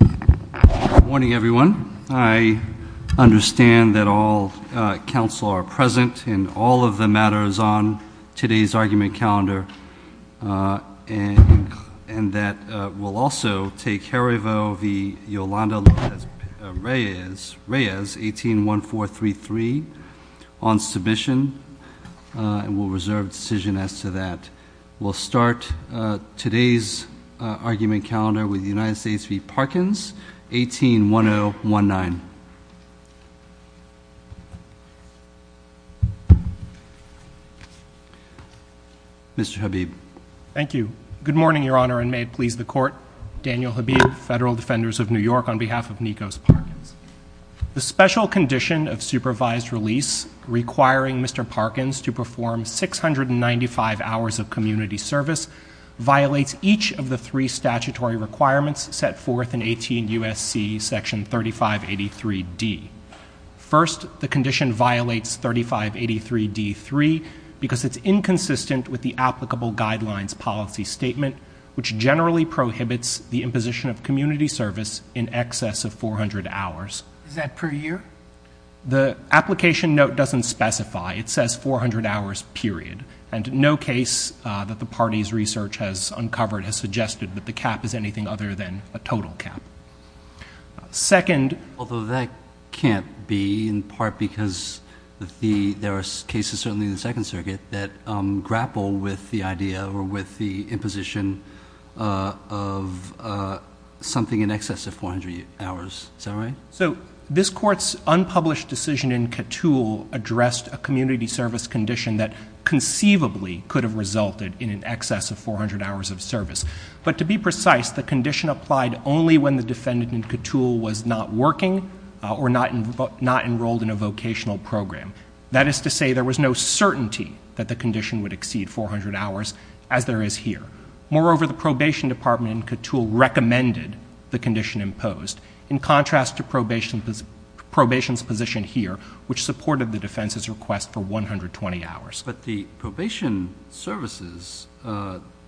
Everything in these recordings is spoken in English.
Good morning, everyone. I understand that all counsel are present in all of the matters on today's argument calendar and that we'll also take Jarevo v. Yolanda Reyes, 18-1433 on submission and we'll reserve decision as to that. We'll start today's argument calendar with United States v. Parkins, 18-1019. Mr. Habib. Thank you. Good morning, Your Honor, and may it please the Court. Daniel Habib, Federal Defenders of New York on behalf of Nikos Parkins. The special condition of supervised release requiring Mr. Parkins to perform 695 hours of community service violates each of the three statutory requirements set forth in 18 U.S.C. section 3583D. First, the condition violates 3583D.3 because it's inconsistent with the applicable guidelines policy statement, which generally prohibits the imposition of community service in excess of 400 hours. Is that per year? The application note doesn't specify. It says 400 hours, period. And no case that the party's research has uncovered has suggested that the cap is anything other than a total cap. Second. Although that can't be in part because there are cases certainly in the Second Circuit that grapple with the idea or with the imposition of something in excess of 400 hours. Is that right? So this is just a community service condition that conceivably could have resulted in an excess of 400 hours of service. But to be precise, the condition applied only when the defendant in Ctul was not working or not enrolled in a vocational program. That is to say there was no certainty that the condition would exceed 400 hours, as there is here. Moreover, the probation department in Ctul recommended the condition imposed. In contrast to probation's imposition here, which supported the defense's request for 120 hours. But the probation services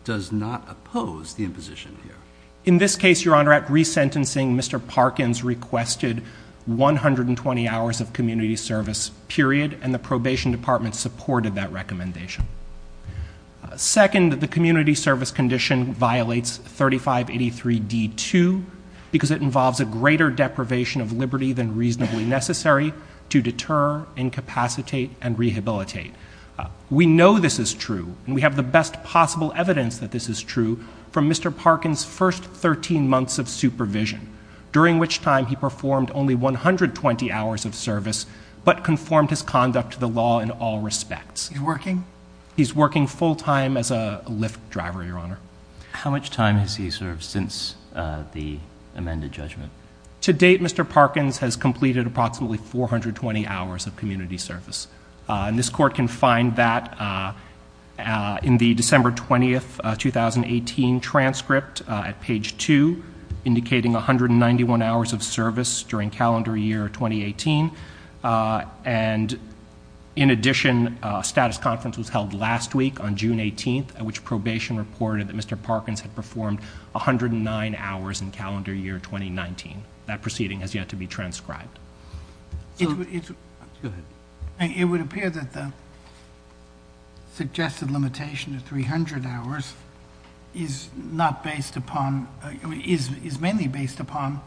does not oppose the imposition here. In this case, Your Honor, at resentencing, Mr. Parkins requested 120 hours of community service, period, and the probation department supported that recommendation. Second, the community service condition violates 3583D2 because it involves a greater deprivation of liberty than reasonably necessary to deter, incapacitate, and rehabilitate. We know this is true, and we have the best possible evidence that this is true from Mr. Parkins' first 13 months of supervision, during which time he performed only 120 hours of service, but conformed his conduct to the law in all respects. He's working? He's working full time as a Lyft driver, Your Honor. To date, Mr. Parkins has completed approximately 420 hours of community service. This court can find that in the December 20, 2018, transcript at page 2, indicating 191 hours of service during calendar year 2018. In addition, a status conference was held last week on June 18, at which probation reported that Mr. Parkins had performed 109 hours in calendar year 2019. That proceeding has yet to be transcribed. It would appear that the suggested limitation of 300 hours is mainly based upon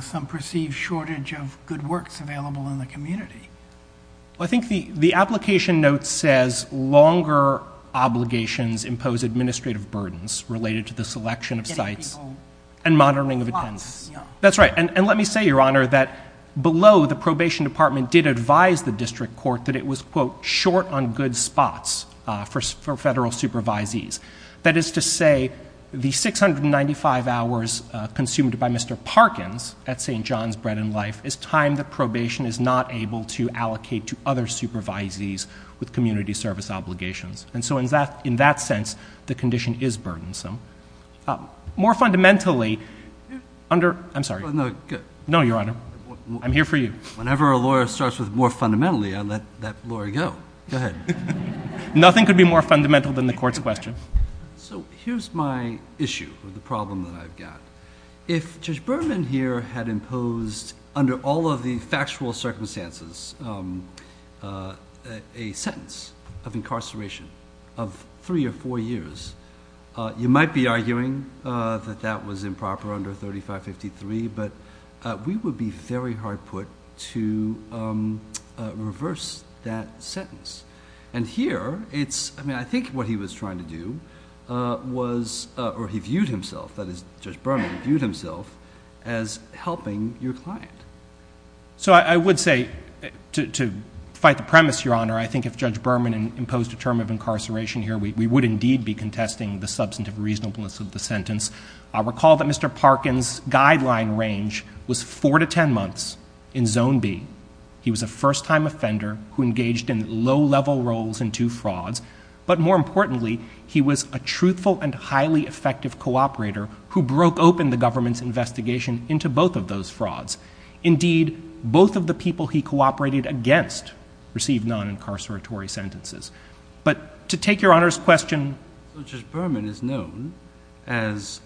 some perceived shortage of good works available in the community. I think the application note says longer obligations impose administrative burdens related to the selection of sites and monitoring of attendance. That's right. And let me say, Your Honor, that below the probation department did advise the district court that it was, quote, short on good spots for federal supervisees. That is to say, the 695 hours consumed by Mr. Parkins at St. John's Bread and Life is time that probation is not able to allocate to other supervisees with community service obligations. And so in that sense, the condition is burdensome. More fundamentally, under, I'm sorry. No, good. No, Your Honor. I'm here for you. Whenever a lawyer starts with more fundamentally, I let that lawyer go. Go ahead. Nothing could be more fundamental than the court's question. So here's my issue, or the problem that I've got. If Judge Berman here had imposed, under all of the factual circumstances, a sentence of incarceration of three or four years, you might be arguing that that was improper under 3553, but we would be very hard put to reverse that sentence. And here, it's, I mean, I think what he was trying to do was, or he viewed himself as helping your client. So I would say, to fight the premise, Your Honor, I think if Judge Berman imposed a term of incarceration here, we would indeed be contesting the substantive reasonableness of the sentence. I recall that Mr. Parkins' guideline range was four to ten months in zone B. He was a first-time offender who engaged in low-level roles in two frauds, but more into both of those frauds. Indeed, both of the people he cooperated against received non-incarceratory sentences. But to take Your Honor's question... Judge Berman is known as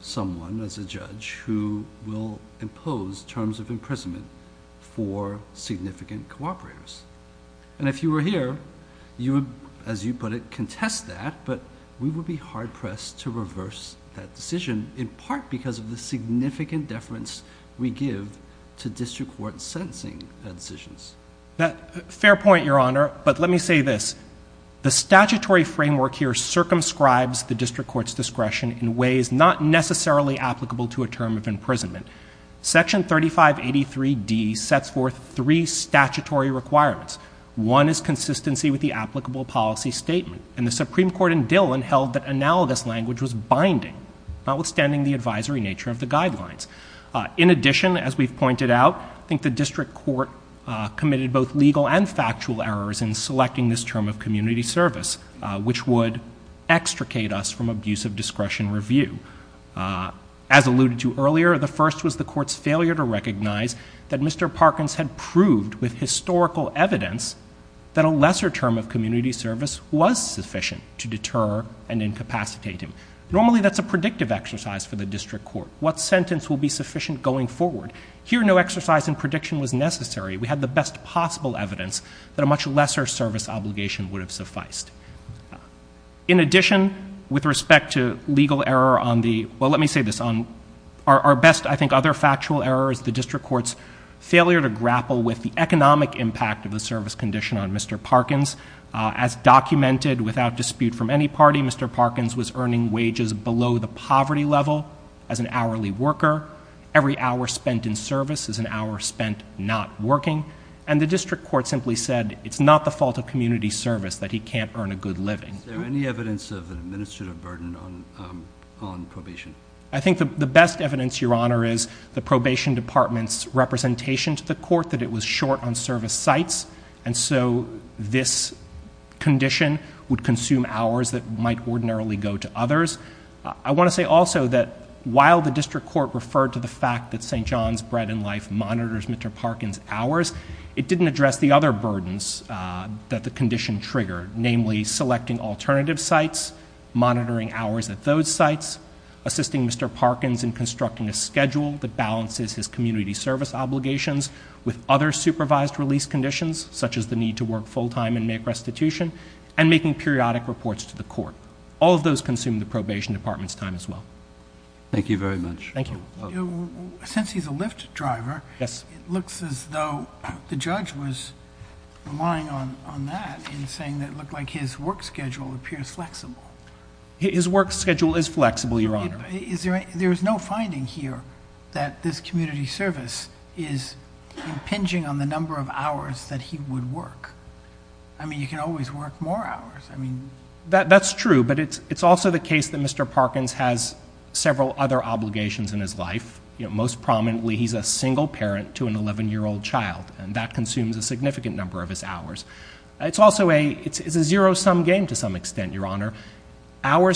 someone, as a judge, who will impose terms of imprisonment for significant cooperators. And if you were here, you would, as you put it, contest that, but we would be hard-pressed to reverse that decision, in part because of the significant deference we give to district court sentencing decisions. Fair point, Your Honor. But let me say this. The statutory framework here circumscribes the district court's discretion in ways not necessarily applicable to a term of imprisonment. Section 3583D sets forth three statutory requirements. One is consistency with the applicable policy statement. And the Supreme Court in Dillon held that analogous language was binding, notwithstanding the advisory nature of the guidelines. In addition, as we've pointed out, I think the district court committed both legal and factual errors in selecting this term of community service, which would extricate us from abuse of discretion review. As alluded to earlier, the first was the court's failure to recognize that Mr. Parkins had proved with historical evidence that a lesser term of community service was sufficient to deter and incapacitate him. Normally, that's a predictive exercise for the district court. What sentence will be sufficient going forward? Here, no exercise in prediction was necessary. We had the best possible evidence that a much lesser service obligation would have sufficed. In addition, with respect to legal error on the—well, let me say this. Our best, I think, other factual error is the district court's failure to grapple with the economic impact of the service condition on Mr. Parkins. As documented without dispute from any party, Mr. Parkins was earning wages below the poverty level as an hourly worker. Every hour spent in service is an hour spent not working. And the district court simply said it's not the fault of community service that he can't earn a good living. Is there any evidence of an administrative burden on probation? I think the best evidence, Your Honor, is the probation department's representation to the court that it was short on service sites, and so this condition would consume hours that might ordinarily go to others. I want to say also that while the district court referred to the fact that St. John's Bread and Life monitors Mr. Parkins' hours, it didn't address the other burdens that the condition triggered, namely selecting alternative sites, monitoring hours at those sites, assisting Mr. Parkins in constructing a schedule that balances his community service obligations with other supervised release conditions, such as the need to work full-time and make restitution, and making periodic reports to the court. All of those consume the probation department's time as well. Thank you very much. Thank you. Since he's a Lyft driver, it looks as though the judge was relying on that in saying that it looked like his work schedule appears flexible. His work schedule is flexible, Your Honor. There is no finding here that this community service is impinging on the number of hours that he would work. I mean, you can always work more hours. That's true, but it's also the case that Mr. Parkins has several other obligations in his life. Most prominently, he's a single parent to an 11-year-old child, and that consumes a number of hours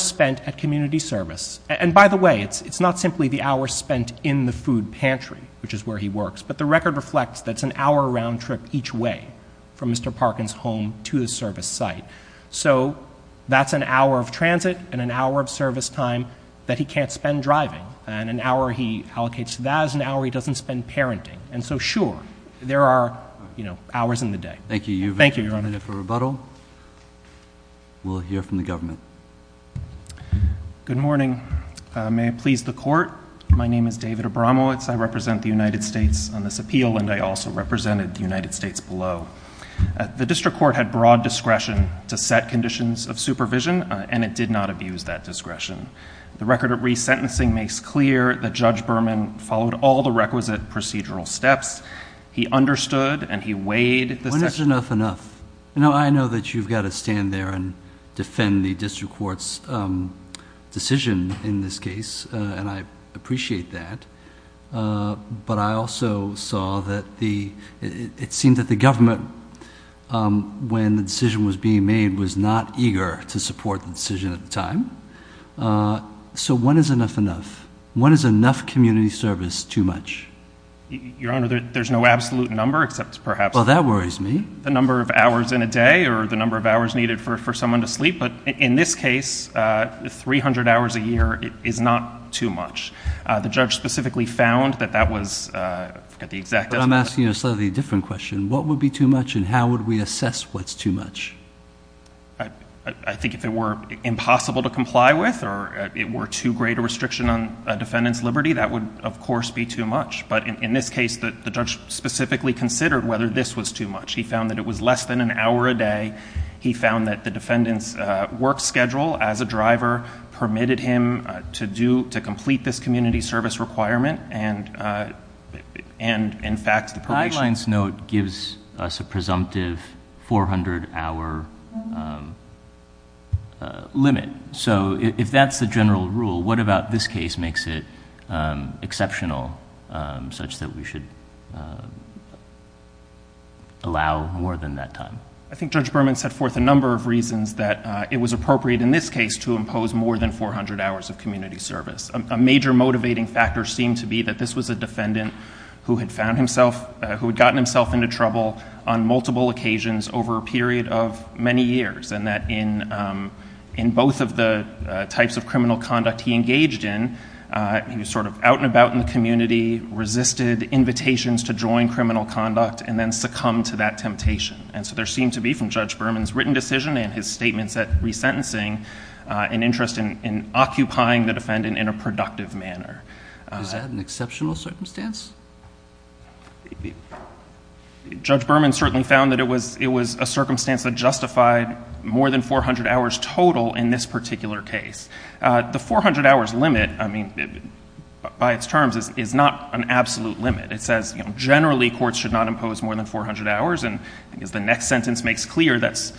spent at community service. And by the way, it's not simply the hours spent in the food pantry, which is where he works, but the record reflects that it's an hour-round trip each way from Mr. Parkins' home to the service site. So that's an hour of transit and an hour of service time that he can't spend driving, and an hour he allocates to that is an hour he doesn't spend parenting. And so, sure, there are hours in the day. Thank you. Thank you, Your Honor. And if for rebuttal, we'll hear from the government. Good morning. May it please the Court, my name is David Abramowitz. I represent the United States on this appeal, and I also represented the United States below. The district court had broad discretion to set conditions of supervision, and it did not abuse that discretion. The record of resentencing makes clear that Judge Berman followed all the requisite procedural steps. He understood, and he weighed the— When is enough enough? You know, I know that you've got to stand there and defend the district court's decision in this case, and I appreciate that, but I also saw that the—it seemed that the government, when the decision was being made, was not eager to support the decision at the time. So when is enough enough? When is enough community service too much? Your Honor, there's no absolute number, except perhaps— Well, that worries me. —the number of hours in a day or the number of hours needed for someone to sleep. But in this case, 300 hours a year is not too much. The judge specifically found that that was the exact— But I'm asking you a slightly different question. What would be too much, and how would we assess what's too much? I think if it were impossible to comply with or it were too great a restriction on a defendant's liberty, that would, of course, be too much. But in this case, the judge specifically considered whether this was too much. He found that it was less than an hour a day. He found that the defendant's work schedule as a driver permitted him to complete this community service requirement, and in fact, the probation— The guidelines note gives us a presumptive 400-hour limit. So if that's the case, would it allow more than that time? I think Judge Berman set forth a number of reasons that it was appropriate in this case to impose more than 400 hours of community service. A major motivating factor seemed to be that this was a defendant who had found himself—who had gotten himself into trouble on multiple occasions over a period of many years and that in both of the types of criminal conduct he engaged in, he was sort of out and about in the community, resisted invitations to join criminal conduct and then succumbed to that temptation. And so there seemed to be, from Judge Berman's written decision and his statements at resentencing, an interest in occupying the defendant in a productive manner. Is that an exceptional circumstance? Judge Berman certainly found that it was a circumstance that justified more than 400 hours total in this particular case. The 400 hours limit, I mean, by complex terms, is not an absolute limit. It says generally courts should not impose more than 400 hours. And as the next sentence makes clear, that's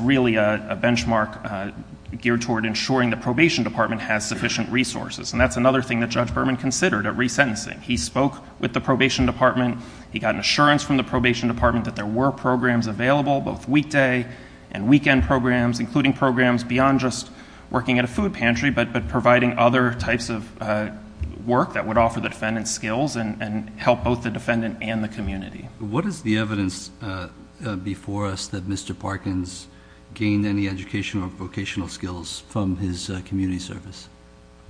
really a benchmark geared toward ensuring the probation department has sufficient resources. And that's another thing that Judge Berman considered at resentencing. He spoke with the probation department. He got an assurance from the probation department that there were programs available, both weekday and weekend programs, including programs beyond just working at a food pantry, but providing other types of work that would offer the defendant skills and help both the defendant and the community. What is the evidence before us that Mr. Parkins gained any educational or vocational skills from his community service?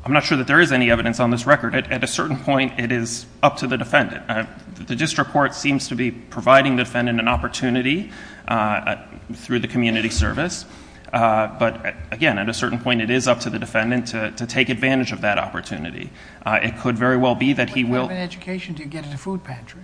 I'm not sure that there is any evidence on this record. At a certain point, it is up to the defendant. The district court seems to be providing the defendant an opportunity through the community service. But again, at a certain point, it is up to the defendant to take advantage of that opportunity. It could very well be that he will When you have an education, do you get at a food pantry?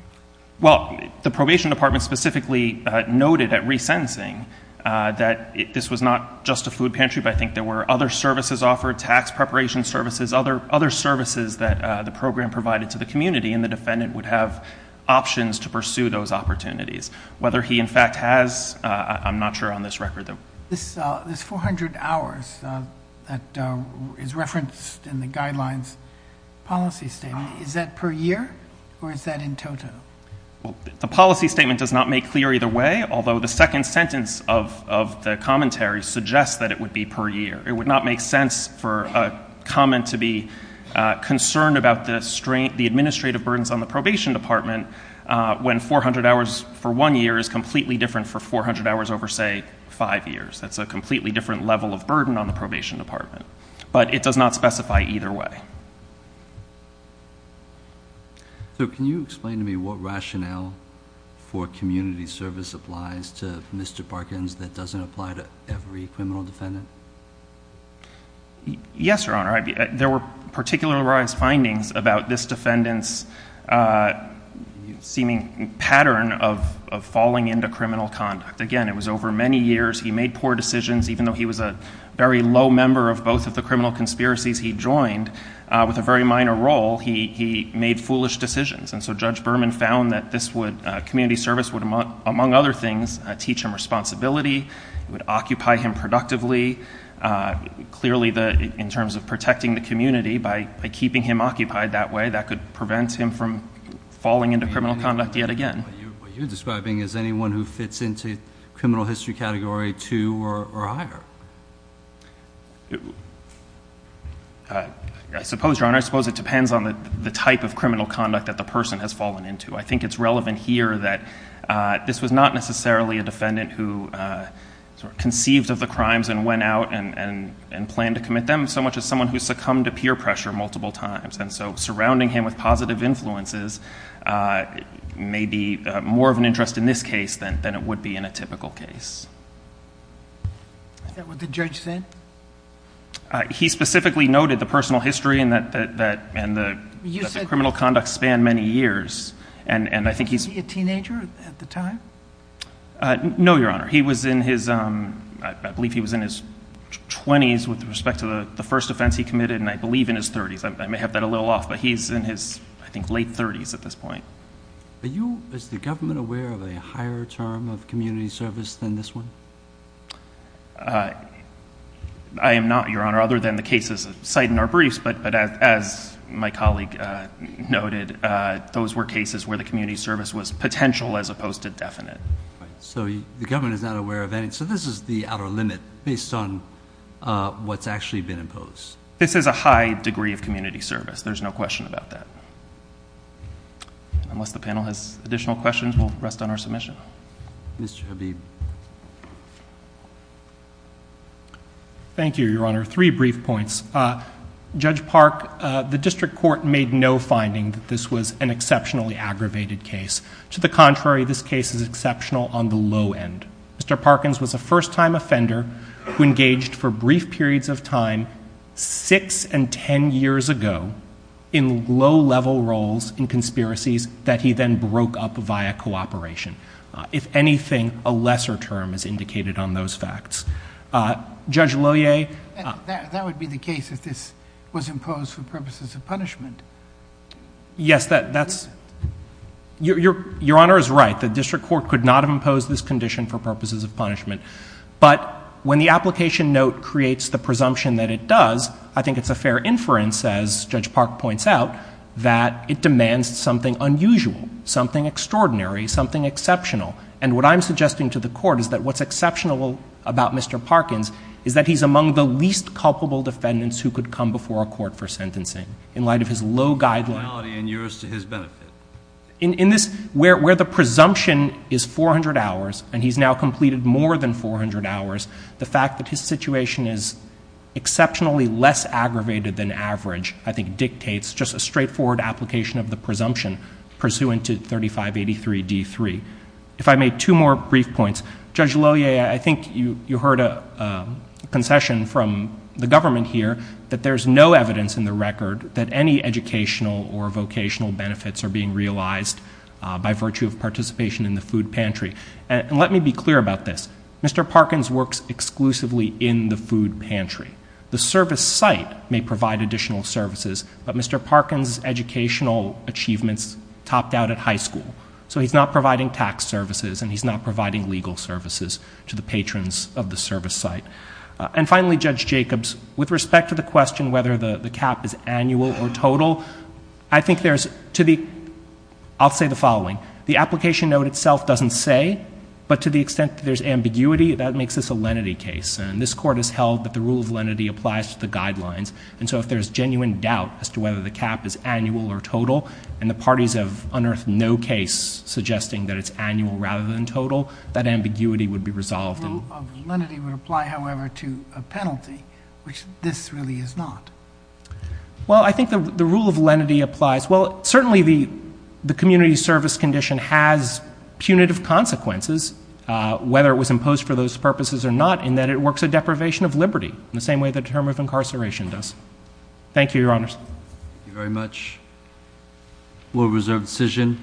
Well, the probation department specifically noted at resentencing that this was not just a food pantry, but I think there were other services offered, tax preparation services, other services that the program provided to the community, and the defendant would have options to pursue those opportunities. Whether he in fact has, I'm not sure on this record. This 400 hours that is referenced in the guidelines policy statement, is that per year or is that in total? The policy statement does not make clear either way, although the second sentence of the commentary suggests that it would be per year. It would not make sense for a comment to be concerned about the administrative burdens on the probation department when 400 hours for one year is completely different for 400 hours over, say, five years. That's a completely different level of burden on the probation department. But it does not specify either way. So can you explain to me what rationale for community service applies to Mr. Parkins that doesn't apply to every criminal defendant? Yes, Your Honor. There were particularized findings about this defendant's seeming pattern of falling into criminal conduct. Again, it was over many years. He made poor decisions. Even though he was a very low member of both of the criminal conspiracies he joined, with a very minor role, he made foolish decisions. And so Judge Berman found that community service would, among other things, teach him responsibility, would occupy him productively. Clearly, in terms of protecting the community, by keeping him occupied that way, that could prevent him from falling into criminal conduct yet again. What you're describing is anyone who fits into criminal history category two or higher. I suppose, Your Honor, I suppose it depends on the type of criminal conduct that the person has fallen into. I think it's relevant here that this was not necessarily a defendant who conceived of the crimes and went out and planned to commit them, so much as someone who succumbed to peer pressure multiple times. And so surrounding him with positive influences may be more of an interest in this case than it would be in a typical case. Is that what the judge said? He specifically noted the personal history and that the criminal conduct spanned many years. Was he a teenager at the time? No, Your Honor. He was in his, I believe he was in his twenties with respect to the first offense he committed, and I believe in his thirties. I may have that a little off, but he's in his, I think, late thirties at this point. Is the government aware of a higher term of community service than this one? I am not, Your Honor, other than the cases cited in our briefs. But as my colleague noted, those were cases where the community service was potential as opposed to definite. So the government is not aware of any. Okay. So this is the outer limit based on what's actually been imposed. This is a high degree of community service. There's no question about that. Unless the panel has additional questions, we'll rest on our submission. Mr. Habib. Thank you, Your Honor. Three brief points. Judge Park, the district court made no finding that this was an exceptionally aggravated case. To the contrary, this case is exceptional on the low end. Mr. Parkins was a first-time offender who engaged for brief periods of time six and ten years ago in low-level roles in conspiracies that he then broke up via cooperation. If anything, a lesser term is indicated on those facts. Judge Loyer. That would be the case if this was imposed for purposes of punishment. Yes, that's... Your Honor is right. The district court could not have imposed this condition for purposes of punishment. But when the application note creates the presumption that it does, I think it's a fair inference, as Judge Park points out, that it demands something unusual, something extraordinary, something exceptional. And what I'm suggesting to the Court is that what's exceptional about Mr. Parkins is that he's among the least culpable defendants who could come before a court for sentencing in light of his low guidelines. In this, where the presumption is 400 hours and he's now completed more than 400 hours, the fact that his situation is exceptionally less aggravated than average, I think dictates just a straightforward application of the presumption pursuant to 3583D3. If I may, two more brief points. Judge Loyer, I think you heard a concession from the government here that there's no evidence in the record that any educational or vocational benefits are being realized by virtue of participation in the food pantry. And let me be clear about this. Mr. Parkins works exclusively in the food pantry. The service site may provide additional services, but Mr. Parkins' educational achievements topped out at high school. So he's not providing tax services and he's not providing legal services to the patrons of the service site. And finally, Judge Jacobs, with respect to the question whether the cap is annual or total, I think there's to the — I'll say the following. The application note itself doesn't say, but to the extent that there's ambiguity, that makes this a lenity case. And this Court has held that the rule of lenity applies to the guidelines. And so if there's genuine doubt as to whether the cap is annual or total and the parties have unearthed no case suggesting that it's annual rather than total, that ambiguity would be resolved. The rule of lenity would apply, however, to a penalty, which this really is not. Well, I think the rule of lenity applies. Well, certainly the community service condition has punitive consequences, whether it was imposed for those purposes or not, in that it works a deprivation of liberty in the same way the term of incarceration does. Thank you, Your Honors. Thank you very much. Rule of reserve decision.